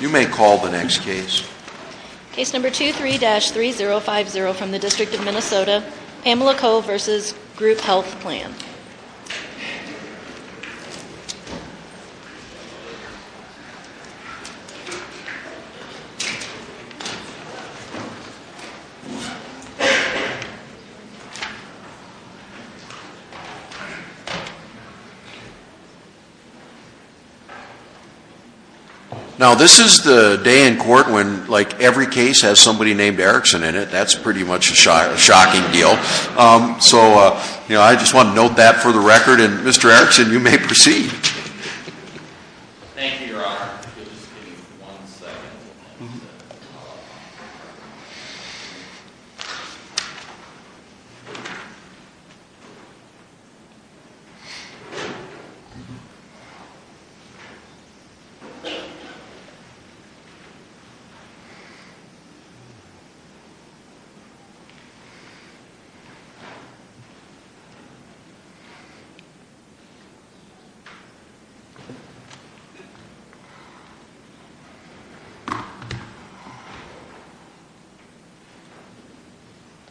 You may call the next case. Case number 23-3050 from the District of Minnesota, Pamela Cole v. Group Health Plan. Now, this is the day in court when, like, every case has somebody named Erickson in it. That's pretty much a shocking deal. So, you know, I just want to note that for the record, and Mr. Erickson, you may proceed. Thank you.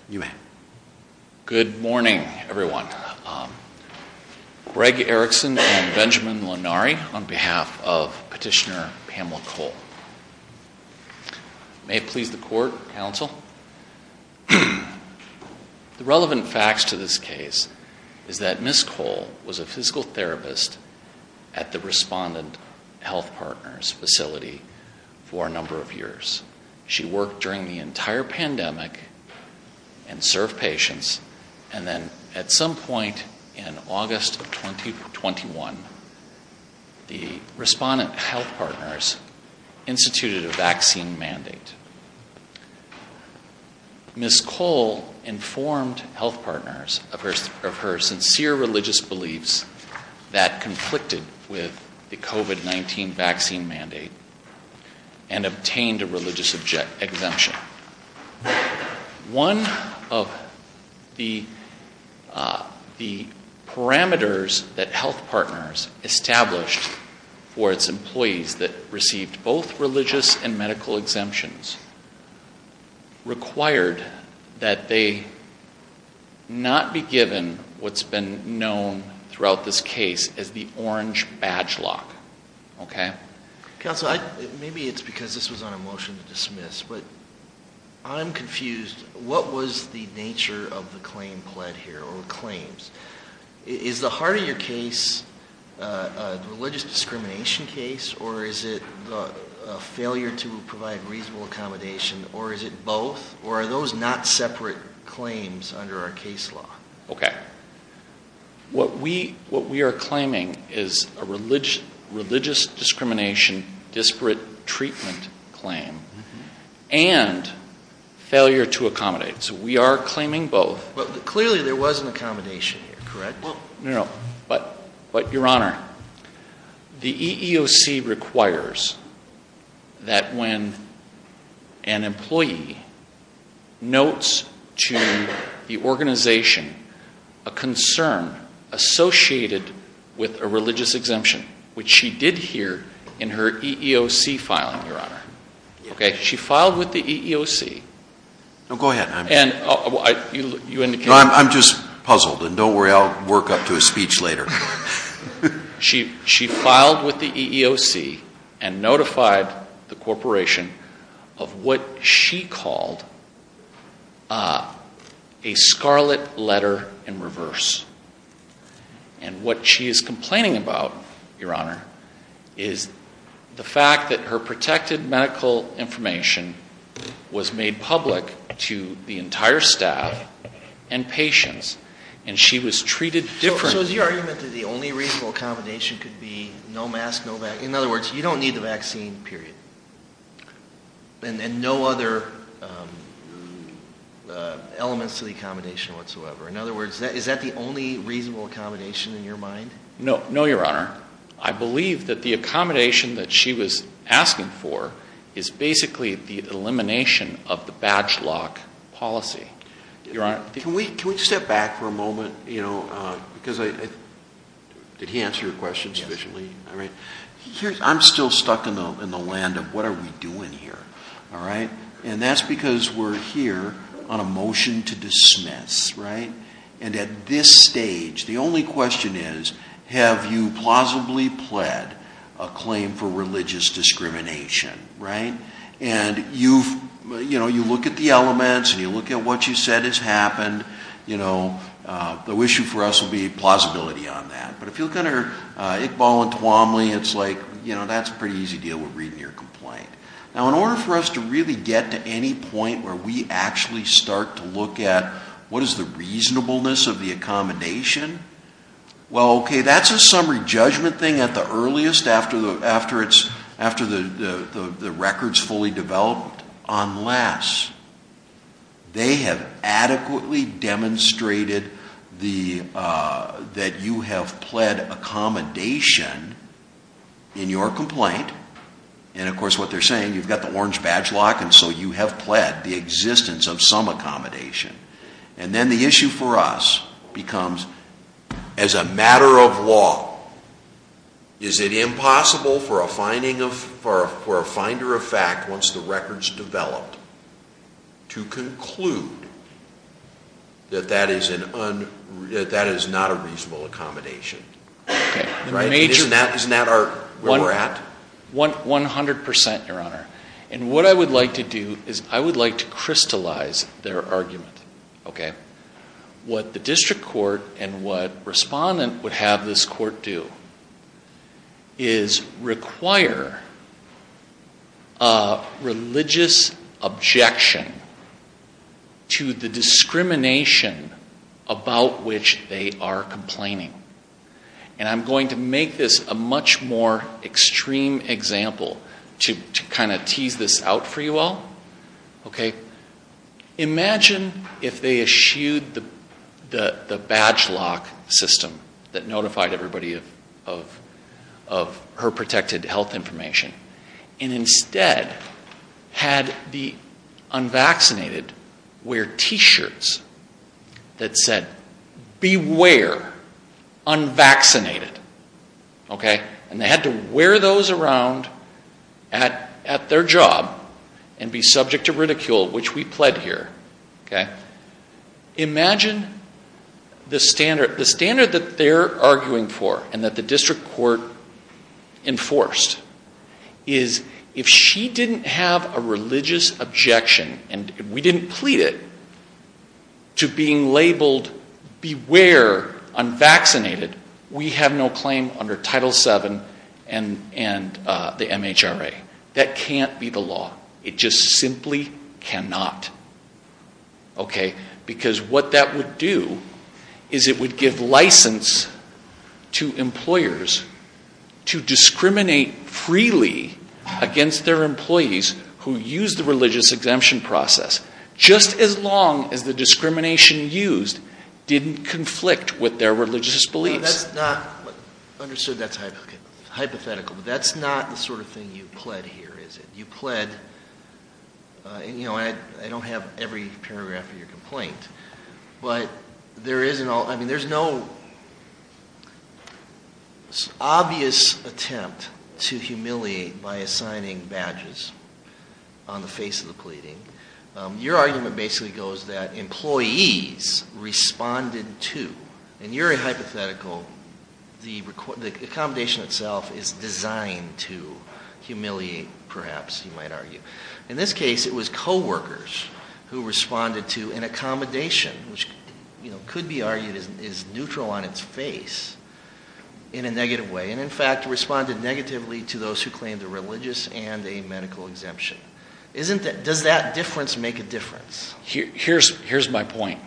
You may. Good morning, everyone. Greg Erickson and Benjamin Lonari on behalf of Petitioner Pamela Cole. The relevant facts to this case is that Ms. Cole was a physical therapist at the Respondent Health Partners facility for a number of years. She worked during the entire pandemic and served patients, and then at some point in Ms. Cole informed health partners of her sincere religious beliefs that conflicted with the COVID-19 vaccine mandate and obtained a religious exemption. One of the parameters that health partners established for its employees that received both religious and medical exemptions required that they not be given what's been known throughout this case as the orange badge lock, okay? Counsel, maybe it's because this was on a motion to dismiss, but I'm confused. What was the nature of the claim pled here or claims? Is the heart of your case a religious discrimination case, or is it a failure to provide reasonable accommodation, or is it both? Or are those not separate claims under our case law? Okay, what we are claiming is a religious discrimination, disparate treatment claim, and failure to accommodate. So we are claiming both. But clearly there was an accommodation here, correct? No, but your honor, the EEOC requires that when an employee notes to the organization a concern associated with a religious exemption, which she did hear in her EEOC filing, your honor, okay? She filed with the EEOC. Go ahead. And you indicated- No, I'm just puzzled, and don't worry, I'll work up to a speech later. She filed with the EEOC and notified the corporation of what she called a scarlet letter in reverse. And what she is complaining about, your honor, is the fact that her protected medical information was made public to the entire staff and patients. And she was treated differently. So is your argument that the only reasonable accommodation could be no mask, no vaccine? In other words, you don't need the vaccine, period. And no other elements to the accommodation whatsoever. In other words, is that the only reasonable accommodation in your mind? No, no, your honor. I believe that the accommodation that she was asking for is basically the elimination of the badge lock policy, your honor. Can we step back for a moment, because I, did he answer your question sufficiently? All right, I'm still stuck in the land of what are we doing here, all right? And that's because we're here on a motion to dismiss, right? And at this stage, the only question is, have you plausibly pled a claim for religious discrimination, right? And you look at the elements, and you look at what you said has happened. The issue for us would be plausibility on that. But if you look under Iqbal and Tuomly, it's like, that's a pretty easy deal with reading your complaint. Now, in order for us to really get to any point where we actually start to look at what is the reasonableness of the accommodation. Well, okay, that's a summary judgment thing at the earliest after the record's fully developed. Unless they have adequately demonstrated that you have pled accommodation in your complaint. And of course, what they're saying, you've got the orange badge lock, and so you have pled the existence of some accommodation. And then the issue for us becomes, as a matter of law, is it impossible for a finder of fact, once the record's developed, to conclude that that is not a reasonable accommodation? Okay, major- Isn't that where we're at? 100%, Your Honor. And what I would like to do is I would like to crystallize their argument, okay? What the district court and what respondent would have this court do is require a religious objection to the discrimination about which they are complaining. And I'm going to make this a much more extreme example to kind of tease this out for you all. Okay, imagine if they eschewed the badge lock system that notified everybody of her protected health information. And instead, had the unvaccinated wear t-shirts that said, beware, unvaccinated, okay? And they had to wear those around at their job and be subject to ridicule, which we pled here, okay? Imagine the standard that they're arguing for and that the district court enforced is if she didn't have a religious objection and we didn't plead it, to being labeled, beware, unvaccinated, we have no claim under Title VII and the MHRA. That can't be the law. It just simply cannot, okay? Because what that would do is it would give license to employers to discriminate freely against their employees who use the religious exemption process. Just as long as the discrimination used didn't conflict with their religious beliefs. That's not, understood that's hypothetical, but that's not the sort of thing you pled here, is it? You pled, and I don't have every paragraph of your complaint. But there is an, I mean there's no obvious attempt to humiliate by assigning badges on the face of the pleading. Your argument basically goes that employees responded to, and you're a hypothetical. The accommodation itself is designed to humiliate, perhaps, you might argue. In this case, it was co-workers who responded to an accommodation, which could be argued is neutral on its face, in a negative way. And in fact, responded negatively to those who claimed a religious and a medical exemption. Isn't that, does that difference make a difference? Here's my point.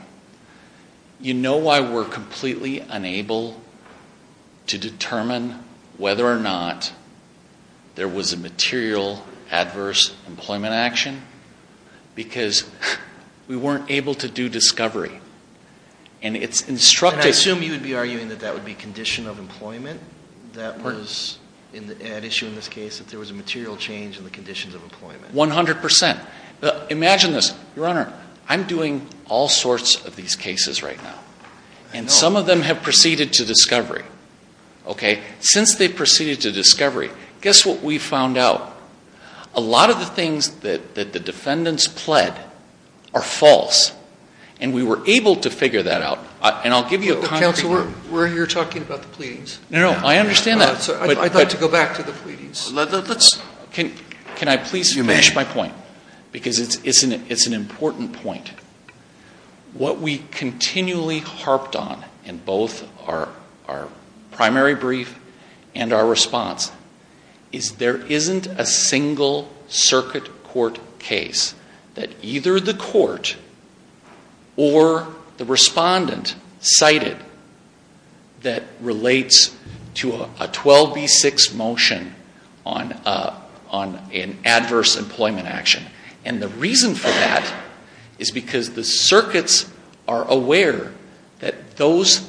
You know why we're completely unable to determine whether or not there was a material adverse employment action? Because we weren't able to do discovery. And it's instructive- And I assume you would be arguing that that would be condition of employment that was an issue in this case. That there was a material change in the conditions of employment. 100%. Imagine this, your honor, I'm doing all sorts of these cases right now. And some of them have proceeded to discovery, okay? Since they've proceeded to discovery, guess what we found out? A lot of the things that the defendants pled are false. And we were able to figure that out. And I'll give you a concrete- Counselor, we're here talking about the pleadings. No, no, I understand that. I'd like to go back to the pleadings. Can I please finish my point? Because it's an important point. What we continually harped on in both our primary brief and our response is there isn't a single circuit court case that either the court or the respondent cited that relates to a 12B6 motion on an adverse employment action. And the reason for that is because the circuits are aware that those,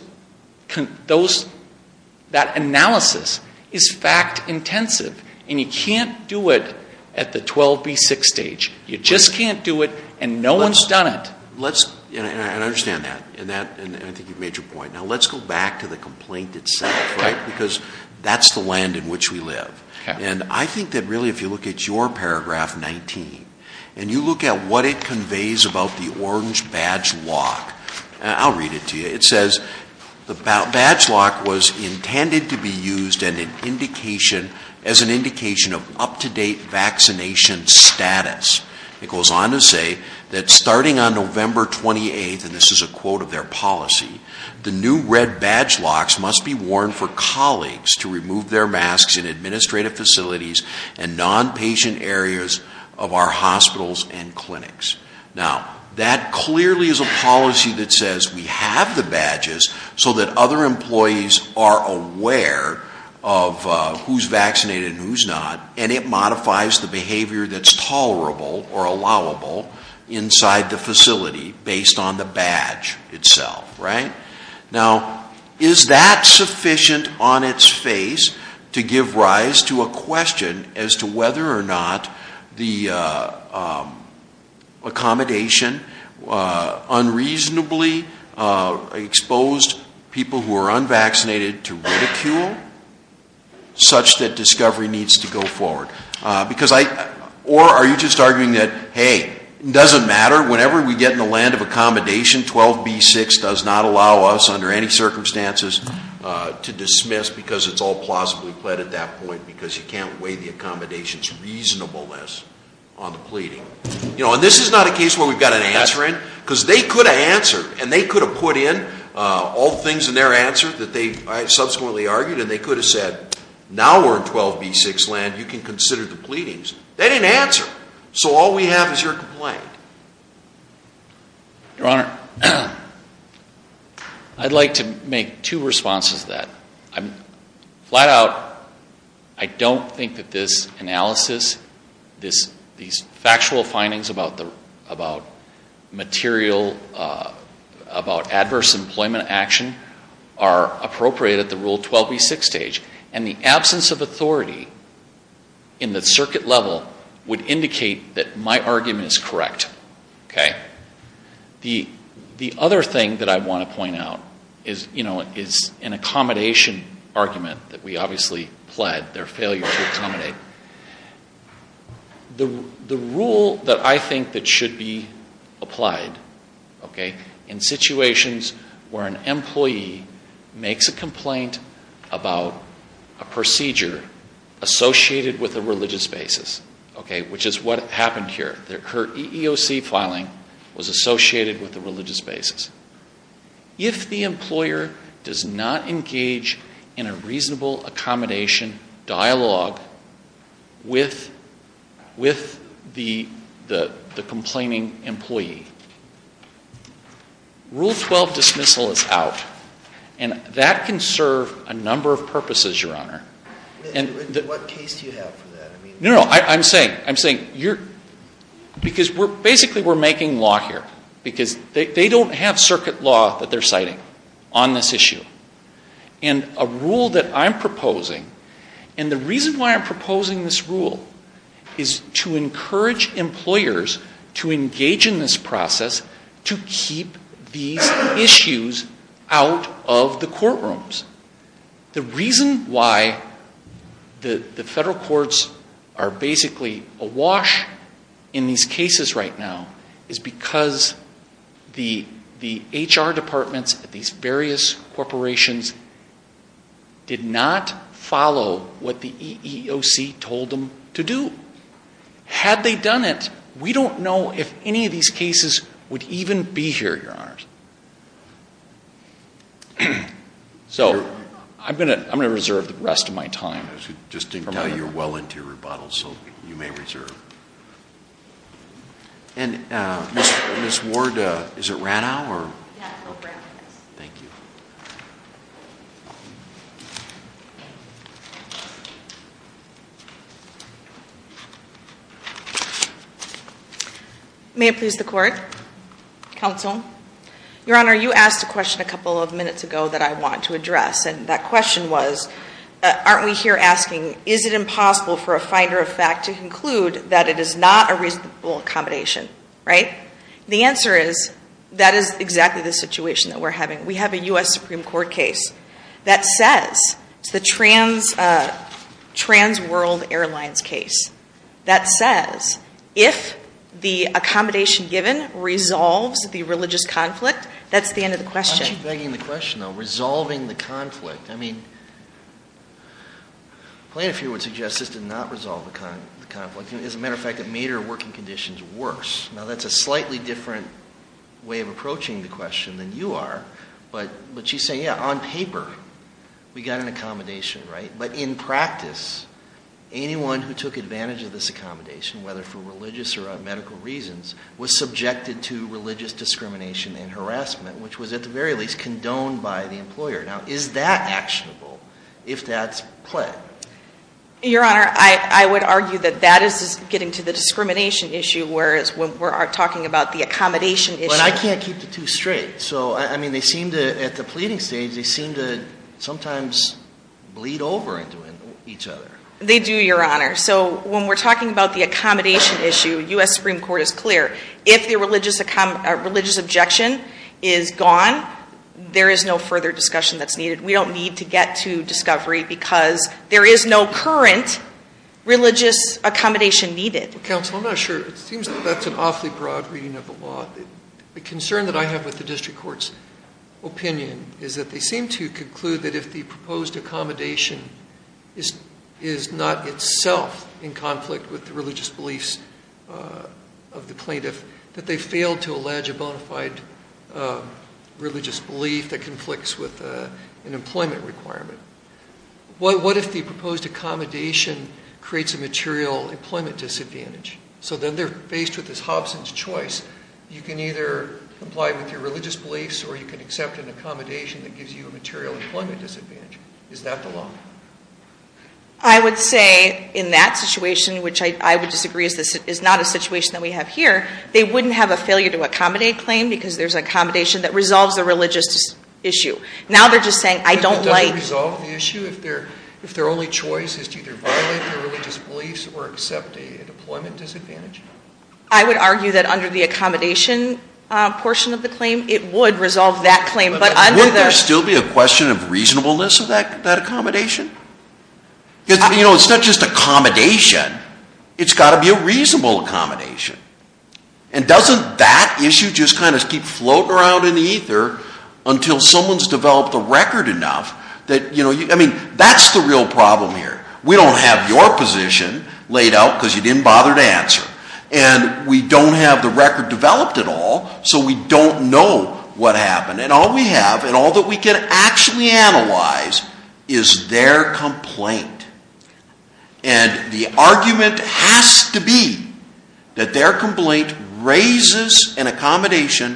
that analysis is fact intensive. And you can't do it at the 12B6 stage. You just can't do it and no one's done it. Let's, and I understand that, and I think you've made your point. Now let's go back to the complaint itself, right? Because that's the land in which we live. And I think that really if you look at your paragraph 19, and you look at what it conveys about the orange badge lock, and I'll read it to you. It says the badge lock was intended to be used as an indication of up to date vaccination status. It goes on to say that starting on November 28th, and this is a quote of their policy. The new red badge locks must be worn for colleagues to remove their masks in administrative facilities and non-patient areas of our hospitals and clinics. Now, that clearly is a policy that says we have the badges so that other employees are aware of who's vaccinated and who's not. And it modifies the behavior that's tolerable or allowable inside the facility based on the badge itself, right? Now, is that sufficient on its face to give rise to a question as to whether or not the accommodation unreasonably exposed people who are unvaccinated to ridicule, Such that discovery needs to go forward. Or are you just arguing that, hey, it doesn't matter, whenever we get in the land of accommodation 12B6 does not allow us under any circumstances to dismiss because it's all plausibly pled at that point because you can't weigh the accommodations reasonableness on the pleading. And this is not a case where we've got an answer in, because they could have answered, and they could have put in all the things in their answer that they subsequently argued. And they could have said, now we're in 12B6 land, you can consider the pleadings. They didn't answer. So all we have is your complaint. Your Honor, I'd like to make two responses to that. I'm flat out, I don't think that this analysis, these factual findings about material, about adverse employment action, are appropriate at the Rule 12B6 stage. And the absence of authority in the circuit level would indicate that my argument is correct, okay? The other thing that I want to point out is an accommodation argument that we obviously pled, their failure to accommodate. The rule that I think that should be applied, okay, in situations where an employee makes a complaint about a procedure associated with a religious basis, okay, which is what happened here. Their EEOC filing was associated with a religious basis. If the employer does not engage in a reasonable accommodation dialogue with the complaining employee, Rule 12 dismissal is out, and that can serve a number of purposes, Your Honor. And- What case do you have for that? No, no, I'm saying, because basically we're making law here. Because they don't have circuit law that they're citing on this issue. And a rule that I'm proposing, and the reason why I'm proposing this rule is to encourage employers to engage in this process to keep these issues out of the courtrooms. The reason why the federal courts are basically awash in these cases right now is because the HR departments at these various corporations did not follow what the EEOC told them to do. Had they done it, we don't know if any of these cases would even be here, Your Honors. So, I'm going to reserve the rest of my time. Just didn't tell you you're well into your rebuttals, so you may reserve. And Ms. Ward, is it Rana or? Yes, it's Rana. Thank you. May it please the court, counsel. Your Honor, you asked a question a couple of minutes ago that I want to address. And that question was, aren't we here asking, is it impossible for a finder of fact to conclude that it is not a reasonable accommodation, right? The answer is, that is exactly the situation that we're having. We have a US Supreme Court case that says, it's the Trans World Airlines case. That says, if the accommodation given resolves the religious conflict, that's the end of the question. Why is she begging the question though, resolving the conflict? I mean, plaintiff here would suggest this did not resolve the conflict. As a matter of fact, it made her working conditions worse. Now that's a slightly different way of approaching the question than you are. But she's saying, yeah, on paper, we got an accommodation, right? But in practice, anyone who took advantage of this accommodation, whether for religious or in harassment, which was at the very least condoned by the employer. Now, is that actionable if that's pled? Your Honor, I would argue that that is getting to the discrimination issue, whereas when we're talking about the accommodation issue. But I can't keep the two straight. So, I mean, they seem to, at the pleading stage, they seem to sometimes bleed over into each other. They do, Your Honor. So, when we're talking about the accommodation issue, US Supreme Court is clear. If the religious objection is gone, there is no further discussion that's needed. We don't need to get to discovery because there is no current religious accommodation needed. Counsel, I'm not sure. It seems that that's an awfully broad reading of the law. The concern that I have with the district court's opinion is that they seem to conclude that if the proposed accommodation creates a material employment disadvantage. So, then they're faced with this Hobson's choice. You can either comply with your religious beliefs, or you can accept an accommodation that gives you a material employment disadvantage. Is that the law? I would say in that situation, which I would disagree is not a situation that we have here, that the proposed accommodation creates a material employment disadvantage. They wouldn't have a failure to accommodate claim, because there's an accommodation that resolves a religious issue. Now, they're just saying, I don't like- But does it resolve the issue if their only choice is to either violate their religious beliefs or accept a employment disadvantage? I would argue that under the accommodation portion of the claim, it would resolve that claim. But under the- But wouldn't there still be a question of reasonableness of that accommodation? Because it's not just accommodation, it's got to be a reasonable accommodation. And doesn't that issue just kind of keep floating around in the ether until someone's developed a record enough that, I mean, that's the real problem here. We don't have your position laid out because you didn't bother to answer. And we don't have the record developed at all, so we don't know what happened. And all we have, and all that we can actually analyze, is their complaint. And the argument has to be that their complaint raises an accommodation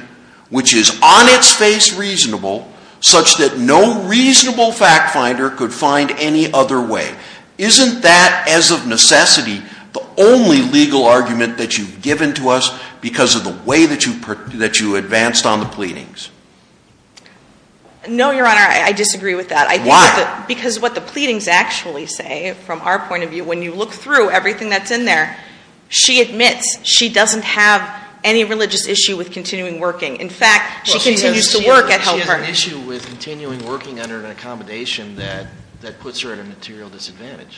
which is on its face reasonable, such that no reasonable fact finder could find any other way. Isn't that, as of necessity, the only legal argument that you've given to us because of the way that you advanced on the pleadings? No, Your Honor, I disagree with that. Why? Because what the pleadings actually say, from our point of view, when you look through everything that's in there, she admits she doesn't have any religious issue with continuing working. In fact, she continues to work at Health Partners. She has an issue with continuing working under an accommodation that puts her at a material disadvantage.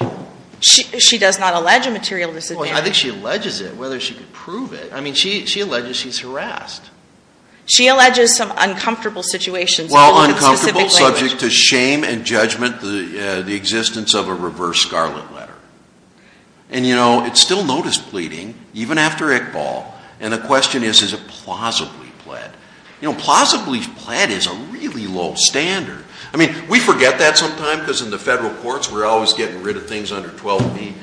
She does not allege a material disadvantage. I think she alleges it, whether she could prove it. I mean, she alleges she's harassed. She alleges some uncomfortable situations. Well, uncomfortable, subject to shame and judgment, the existence of a reverse scarlet letter. And it's still notice pleading, even after Iqbal. And the question is, is it plausibly pled? Plausibly pled is a really low standard. I mean, we forget that sometimes because in the federal courts we're always getting rid of things under 12B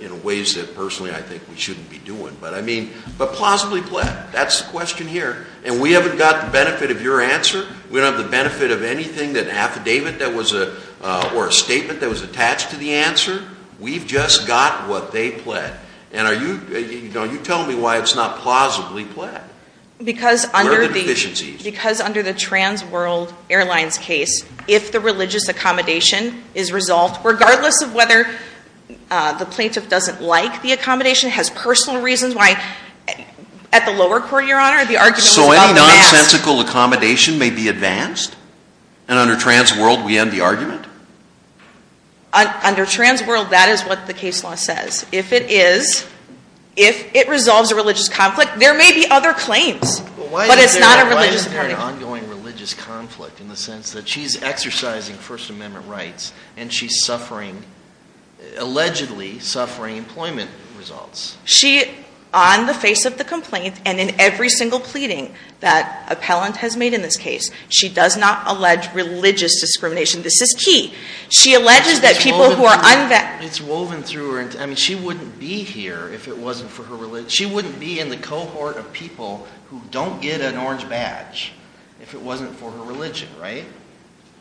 in ways that personally I think we shouldn't be doing. But I mean, but plausibly pled, that's the question here. And we haven't got the benefit of your answer. We don't have the benefit of anything, an affidavit or a statement that was attached to the answer. We've just got what they pled. And you tell me why it's not plausibly pled. Where are the deficiencies? Because under the Trans World Airlines case, if the religious accommodation is resolved, regardless of whether the plaintiff doesn't like the accommodation, has personal reasons why. At the lower court, your honor, the argument was about mass. So any nonsensical accommodation may be advanced? And under trans world, we end the argument? Under trans world, that is what the case law says. If it is, if it resolves a religious conflict, there may be other claims. But it's not a religious. Why isn't there an ongoing religious conflict in the sense that she's exercising first amendment rights and she's suffering, allegedly suffering employment results? She, on the face of the complaint, and in every single pleading that appellant has made in this case, she does not allege religious discrimination, this is key. She alleges that people who are unvaccinated- It's woven through her, I mean, she wouldn't be here if it wasn't for her religion. She wouldn't be in the cohort of people who don't get an orange badge if it wasn't for her religion, right?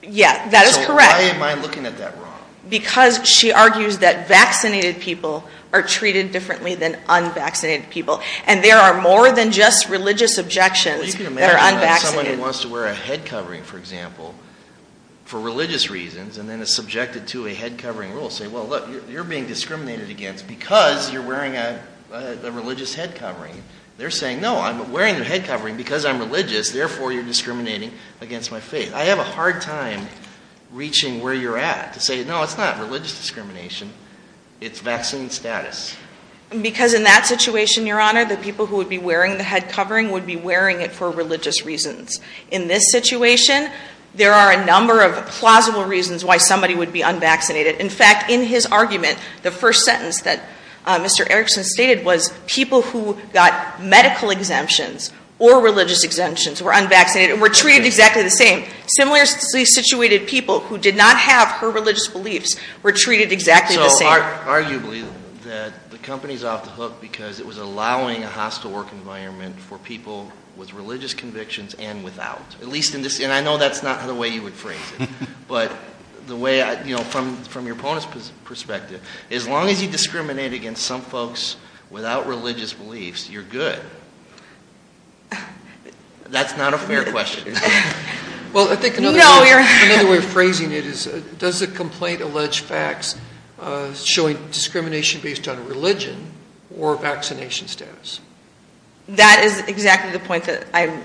Yeah, that is correct. So why am I looking at that wrong? Because she argues that vaccinated people are treated differently than unvaccinated people. And there are more than just religious objections that are unvaccinated. You can imagine someone who wants to wear a head covering, for example, for religious reasons, and then is subjected to a head covering rule. Say, well, look, you're being discriminated against because you're wearing a religious head covering. They're saying, no, I'm wearing a head covering because I'm religious, therefore you're discriminating against my faith. I have a hard time reaching where you're at to say, no, it's not religious discrimination, it's vaccine status. Because in that situation, your honor, the people who would be wearing the head covering would be wearing it for religious reasons. In this situation, there are a number of plausible reasons why somebody would be unvaccinated. In fact, in his argument, the first sentence that Mr. Erickson stated was, people who got medical exemptions or religious exemptions were unvaccinated and were treated exactly the same. Similarly situated people who did not have her religious beliefs were treated exactly the same. Arguably, the company's off the hook because it was allowing a hostile work environment for people with religious convictions and without. At least in this, and I know that's not the way you would phrase it. But the way, from your opponent's perspective, as long as you discriminate against some folks without religious beliefs, you're good. That's not a fair question. Well, I think another way of phrasing it is, does the complaint allege facts showing discrimination based on religion or vaccination status? That is exactly the point that I'm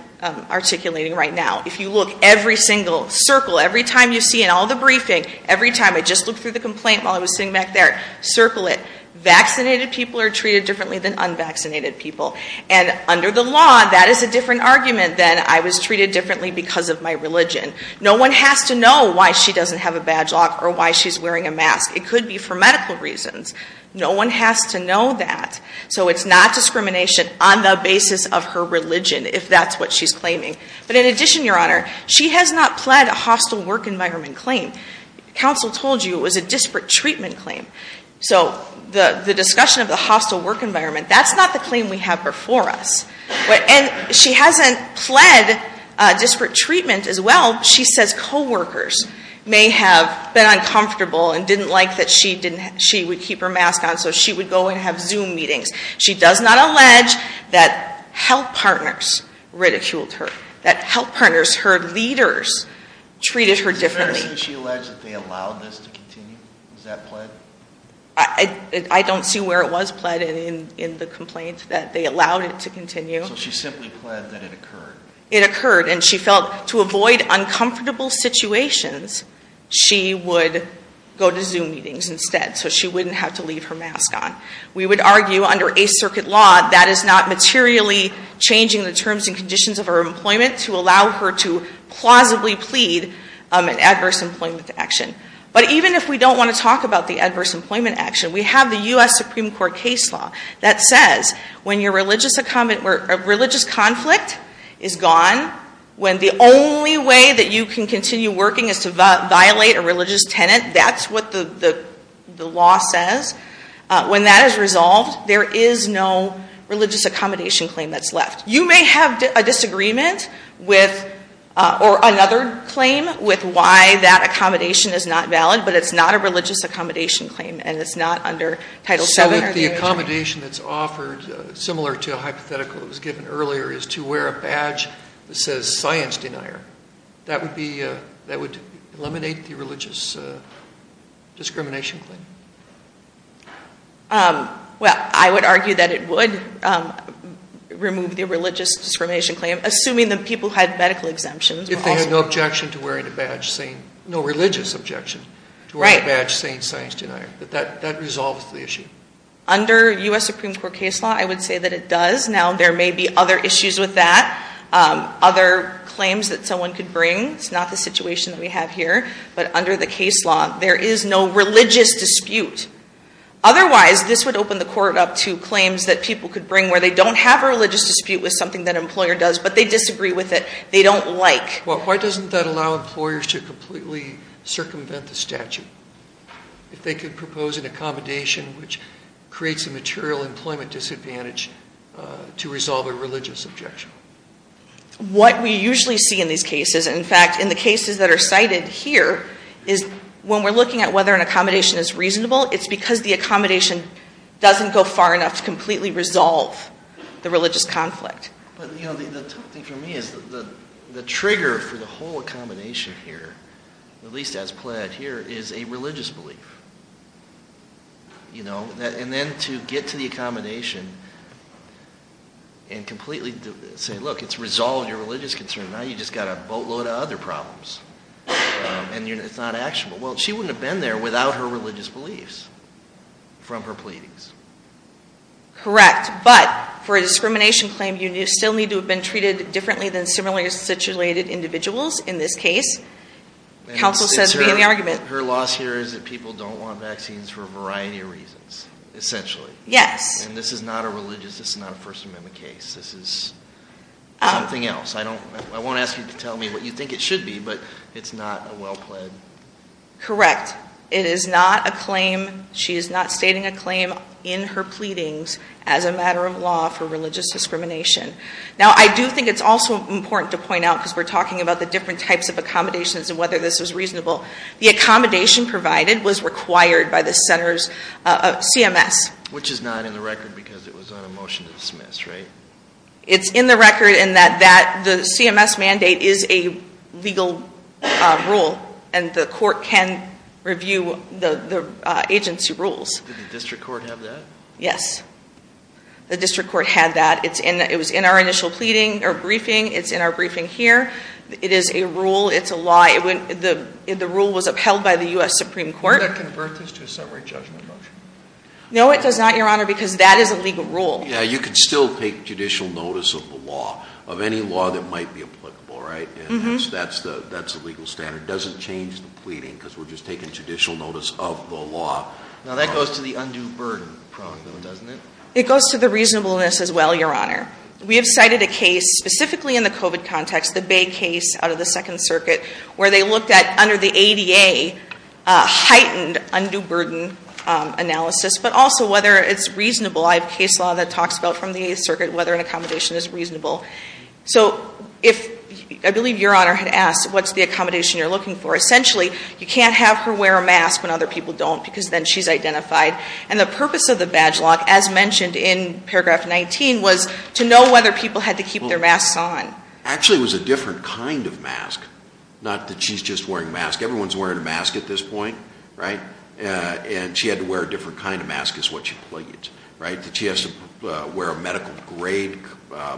articulating right now. If you look every single circle, every time you see in all the briefing, every time I just looked through the complaint while I was sitting back there, circle it. Vaccinated people are treated differently than unvaccinated people. And under the law, that is a different argument than I was treated differently because of my religion. No one has to know why she doesn't have a badge lock or why she's wearing a mask. It could be for medical reasons. No one has to know that. So it's not discrimination on the basis of her religion, if that's what she's claiming. But in addition, Your Honor, she has not pled a hostile work environment claim. Counsel told you it was a disparate treatment claim. So the discussion of the hostile work environment, that's not the claim we have before us. And she hasn't pled disparate treatment as well. She says co-workers may have been uncomfortable and didn't like that she would keep her mask on so she would go and have Zoom meetings. She does not allege that health partners ridiculed her, that health partners, her leaders, treated her differently. Did she allege that they allowed this to continue, was that pled? I don't see where it was pled in the complaint, that they allowed it to continue. So she simply pled that it occurred. It occurred, and she felt to avoid uncomfortable situations, she would go to Zoom meetings instead, so she wouldn't have to leave her mask on. We would argue under a circuit law that is not materially changing the terms and conditions of her employment to allow her to plausibly plead an adverse employment action. But even if we don't want to talk about the adverse employment action, we have the US Supreme Court case law that says when your religious conflict is gone, when the only way that you can continue working is to violate a religious tenet, that's what the law says, when that is resolved, there is no religious accommodation claim that's left. You may have a disagreement with, or another claim with why that accommodation is not valid, but it's not a religious accommodation claim, and it's not under Title VII or the- So if the accommodation that's offered, similar to a hypothetical that was given earlier, is to wear a badge that says science denier. That would eliminate the religious discrimination claim? Well, I would argue that it would remove the religious discrimination claim, assuming that people had medical exemptions. If they had no objection to wearing a badge saying, no religious objection to wearing a badge saying science denier, but that resolves the issue. Under US Supreme Court case law, I would say that it does. Now, there may be other issues with that. Other claims that someone could bring, it's not the situation that we have here, but under the case law, there is no religious dispute. Otherwise, this would open the court up to claims that people could bring where they don't have a religious dispute with something that an employer does, but they disagree with it. They don't like. Well, why doesn't that allow employers to completely circumvent the statute? If they could propose an accommodation which creates a material employment disadvantage to resolve a religious objection. What we usually see in these cases, in fact, in the cases that are cited here, is when we're looking at whether an accommodation is reasonable, it's because the accommodation doesn't go far enough to completely resolve the religious conflict. But the tough thing for me is the trigger for the whole accommodation here, at least as pledged here, is a religious belief. And then to get to the accommodation and completely say, look, it's resolved your religious concern. Now you just gotta boatload of other problems, and it's not actionable. Well, she wouldn't have been there without her religious beliefs from her pleadings. Correct, but for a discrimination claim, you still need to have been treated differently than similarly situated individuals in this case. Counsel says, begin the argument. Her loss here is that people don't want vaccines for a variety of reasons, essentially. Yes. And this is not a religious, this is not a First Amendment case. This is something else. I won't ask you to tell me what you think it should be, but it's not a well pled. Correct. It is not a claim, she is not stating a claim in her pleadings as a matter of law for religious discrimination. Now I do think it's also important to point out, because we're talking about the different types of accommodations and whether this is reasonable. The accommodation provided was required by the center's CMS. Which is not in the record because it was on a motion to dismiss, right? It's in the record in that the CMS mandate is a legal rule, and the court can review the agency rules. Did the district court have that? Yes, the district court had that. It was in our initial briefing, it's in our briefing here. It is a rule, it's a law, the rule was upheld by the US Supreme Court. Would that convert this to a summary judgment motion? No, it does not, your honor, because that is a legal rule. Yeah, you could still take judicial notice of the law, of any law that might be applicable, right? That's the legal standard, doesn't change the pleading, because we're just taking judicial notice of the law. Now that goes to the undue burden prong, though, doesn't it? It goes to the reasonableness as well, your honor. We have cited a case, specifically in the COVID context, the Bay case out of the Second Circuit, where they looked at, under the ADA, heightened undue burden analysis, but also whether it's reasonable. I have case law that talks about, from the Eighth Circuit, whether an accommodation is reasonable. So if, I believe your honor had asked, what's the accommodation you're looking for? Essentially, you can't have her wear a mask when other people don't, because then she's identified. And the purpose of the badge lock, as mentioned in paragraph 19, was to know whether people had to keep their masks on. Actually, it was a different kind of mask, not that she's just wearing a mask. Everyone's wearing a mask at this point, right? And she had to wear a different kind of mask is what she pleaded, right? That she has to wear a medical grade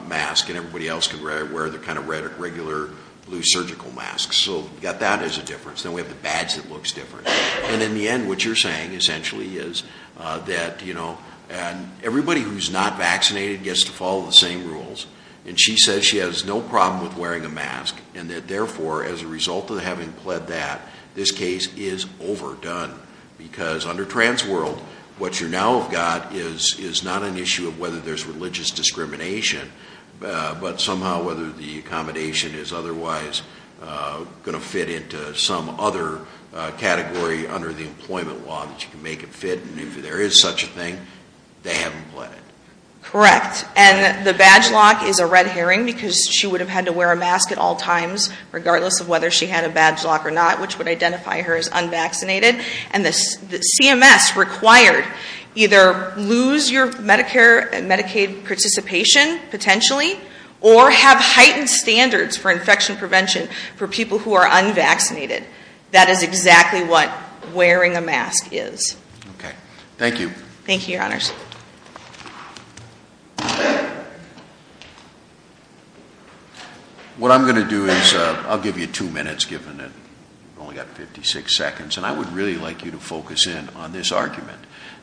mask, and everybody else can wear their kind of regular blue surgical masks. So you got that as a difference, then we have the badge that looks different. And in the end, what you're saying, essentially, is that everybody who's not vaccinated gets to follow the same rules. And she says she has no problem with wearing a mask, and that therefore, as a result of having pled that, this case is overdone. Because under trans world, what you now have got is not an issue of whether there's religious discrimination. But somehow, whether the accommodation is otherwise going to fit into some other category under the employment law that you can make it fit, and if there is such a thing, they haven't pled it. Correct, and the badge lock is a red herring, because she would have had to wear a mask at all times, regardless of whether she had a badge lock or not, which would identify her as unvaccinated. And the CMS required either lose your Medicare and Medicaid participation, potentially, or have heightened standards for infection prevention for people who are unvaccinated. That is exactly what wearing a mask is. Okay, thank you. Thank you, your honors. What I'm going to do is, I'll give you two minutes, given that we've only got 56 seconds. And I would really like you to focus in on this argument.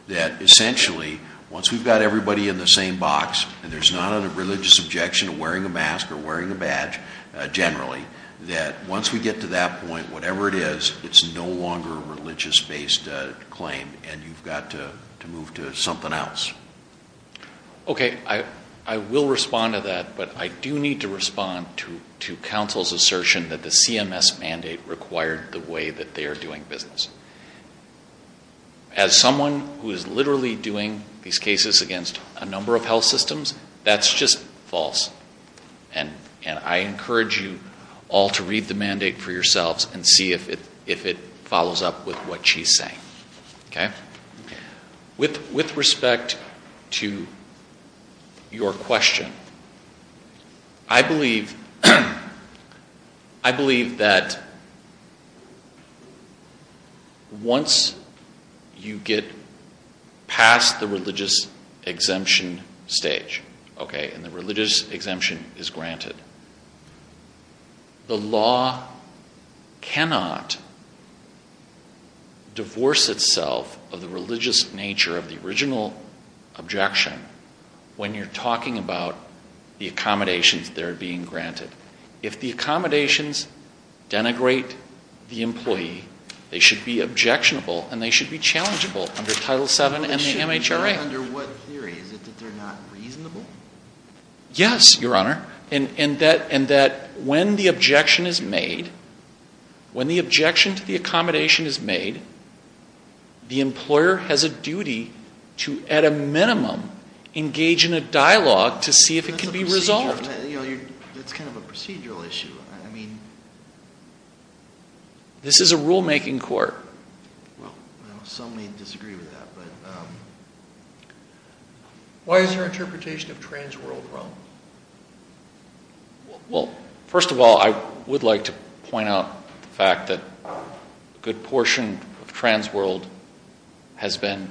That essentially, once we've got everybody in the same box, and there's not a religious objection to wearing a mask or wearing a badge, generally, that once we get to that point, whatever it is, it's no longer a religious-based claim, and you've got to move to something else. Okay, I will respond to that, but I do need to respond to counsel's assertion that the CMS mandate required the way that they are doing business. As someone who is literally doing these cases against a number of health systems, that's just false. And I encourage you all to read the mandate for yourselves and see if it follows up with what she's saying. Okay? With respect to your question, I believe that once you get past the religious exemption stage, okay? And the religious exemption is granted, the law cannot divorce itself of the religious nature of the original objection when you're talking about the accommodations that are being granted. If the accommodations denigrate the employee, they should be objectionable and they should be challengeable under Title VII and the MHRA. Okay. Under what theory? Is it that they're not reasonable? Yes, your honor. And that when the objection is made, when the objection to the accommodation is made, the employer has a duty to, at a minimum, engage in a dialogue to see if it can be resolved. That's kind of a procedural issue, I mean. This is a rule-making court. Well, some may disagree with that, but why is her interpretation of trans world wrong? Well, first of all, I would like to point out the fact that a good portion of trans world has been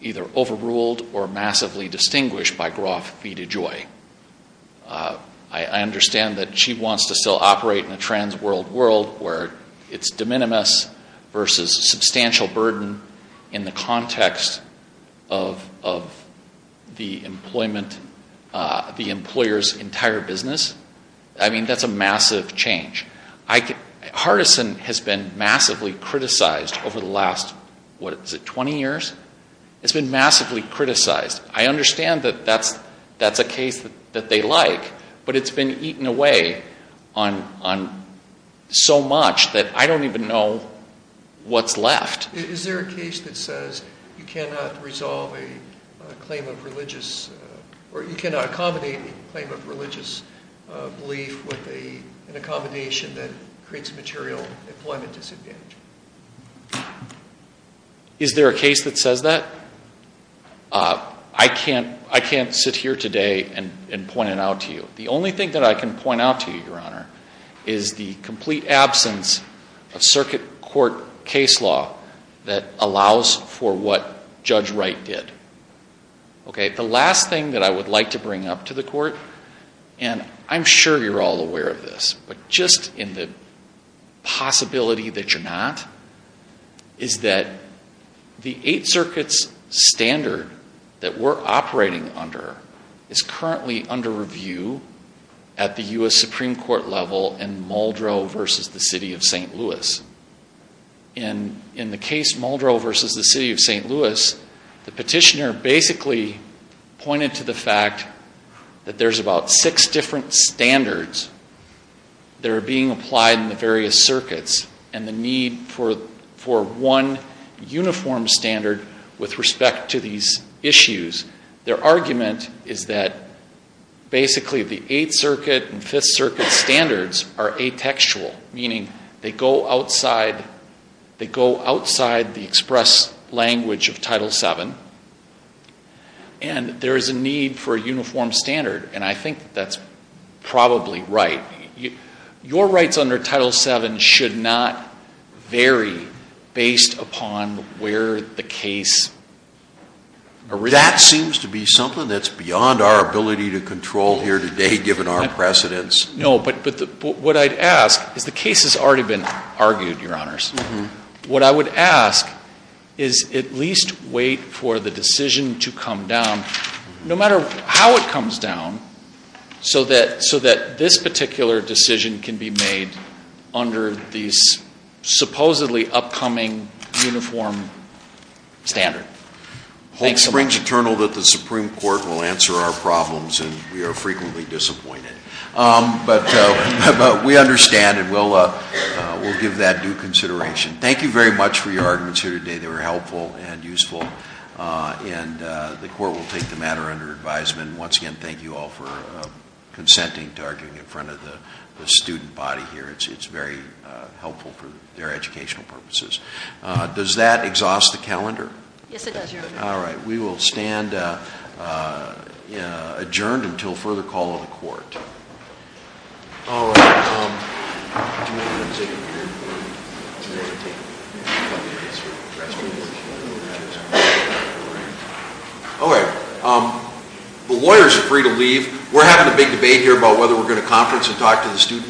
either overruled or massively distinguished by Groff v. DeJoy. I understand that she wants to still operate in a trans world world where it's de minimis versus substantial burden in the context of the employment, the employer's entire business. I mean, that's a massive change. Hardison has been massively criticized over the last, what is it, 20 years? It's been massively criticized. I understand that that's a case that they like, but it's been eaten away on so much that I don't even know what's left. Is there a case that says you cannot resolve a claim of religious, or you cannot accommodate a claim of religious belief with an accommodation that creates a material employment disadvantage? Is there a case that says that? I can't sit here today and point it out to you. The only thing that I can point out to you, Your Honor, is the complete absence of circuit court case law that allows for what Judge Wright did. Okay, the last thing that I would like to bring up to the Court, and I'm sure you're all aware of this, but just in the possibility that you're not, is that the Eight Circuit's standard that we're operating under is currently under review at the U.S. Supreme Court level in Muldrow v. the City of St. Louis. In the case Muldrow v. the City of St. Louis, the petitioner basically pointed to the fact that there's about six different standards that are being applied in the various circuits and the need for one uniform standard with respect to these issues. Their argument is that basically the Eight Circuit and Fifth Circuit standards are atextual, meaning they go outside the express language of Title VII, and there is a need for a uniform standard, and I think that's probably right. Your rights under Title VII should not vary based upon where the case originates. That seems to be something that's beyond our ability to control here today, given our precedents. No, but what I'd ask is the case has already been argued, Your Honors. What I would ask is at least wait for the decision to come down, no matter how it comes down, so that this particular decision can be made under these supposedly upcoming uniform standards. Hope springs eternal that the Supreme Court will answer our problems, and we are frequently disappointed. But we understand, and we'll give that due consideration. Thank you very much for your arguments here today. They were helpful and useful, and the Court will take the matter under advisement. Once again, thank you all for consenting to arguing in front of the student body here. It's very helpful for their educational purposes. Does that exhaust the calendar? Yes, it does, Your Honor. All right. We will stand adjourned until further call of the Court. All right. Okay. The lawyers are free to leave. We're having a big debate here about whether we're going to conference and talk to the students.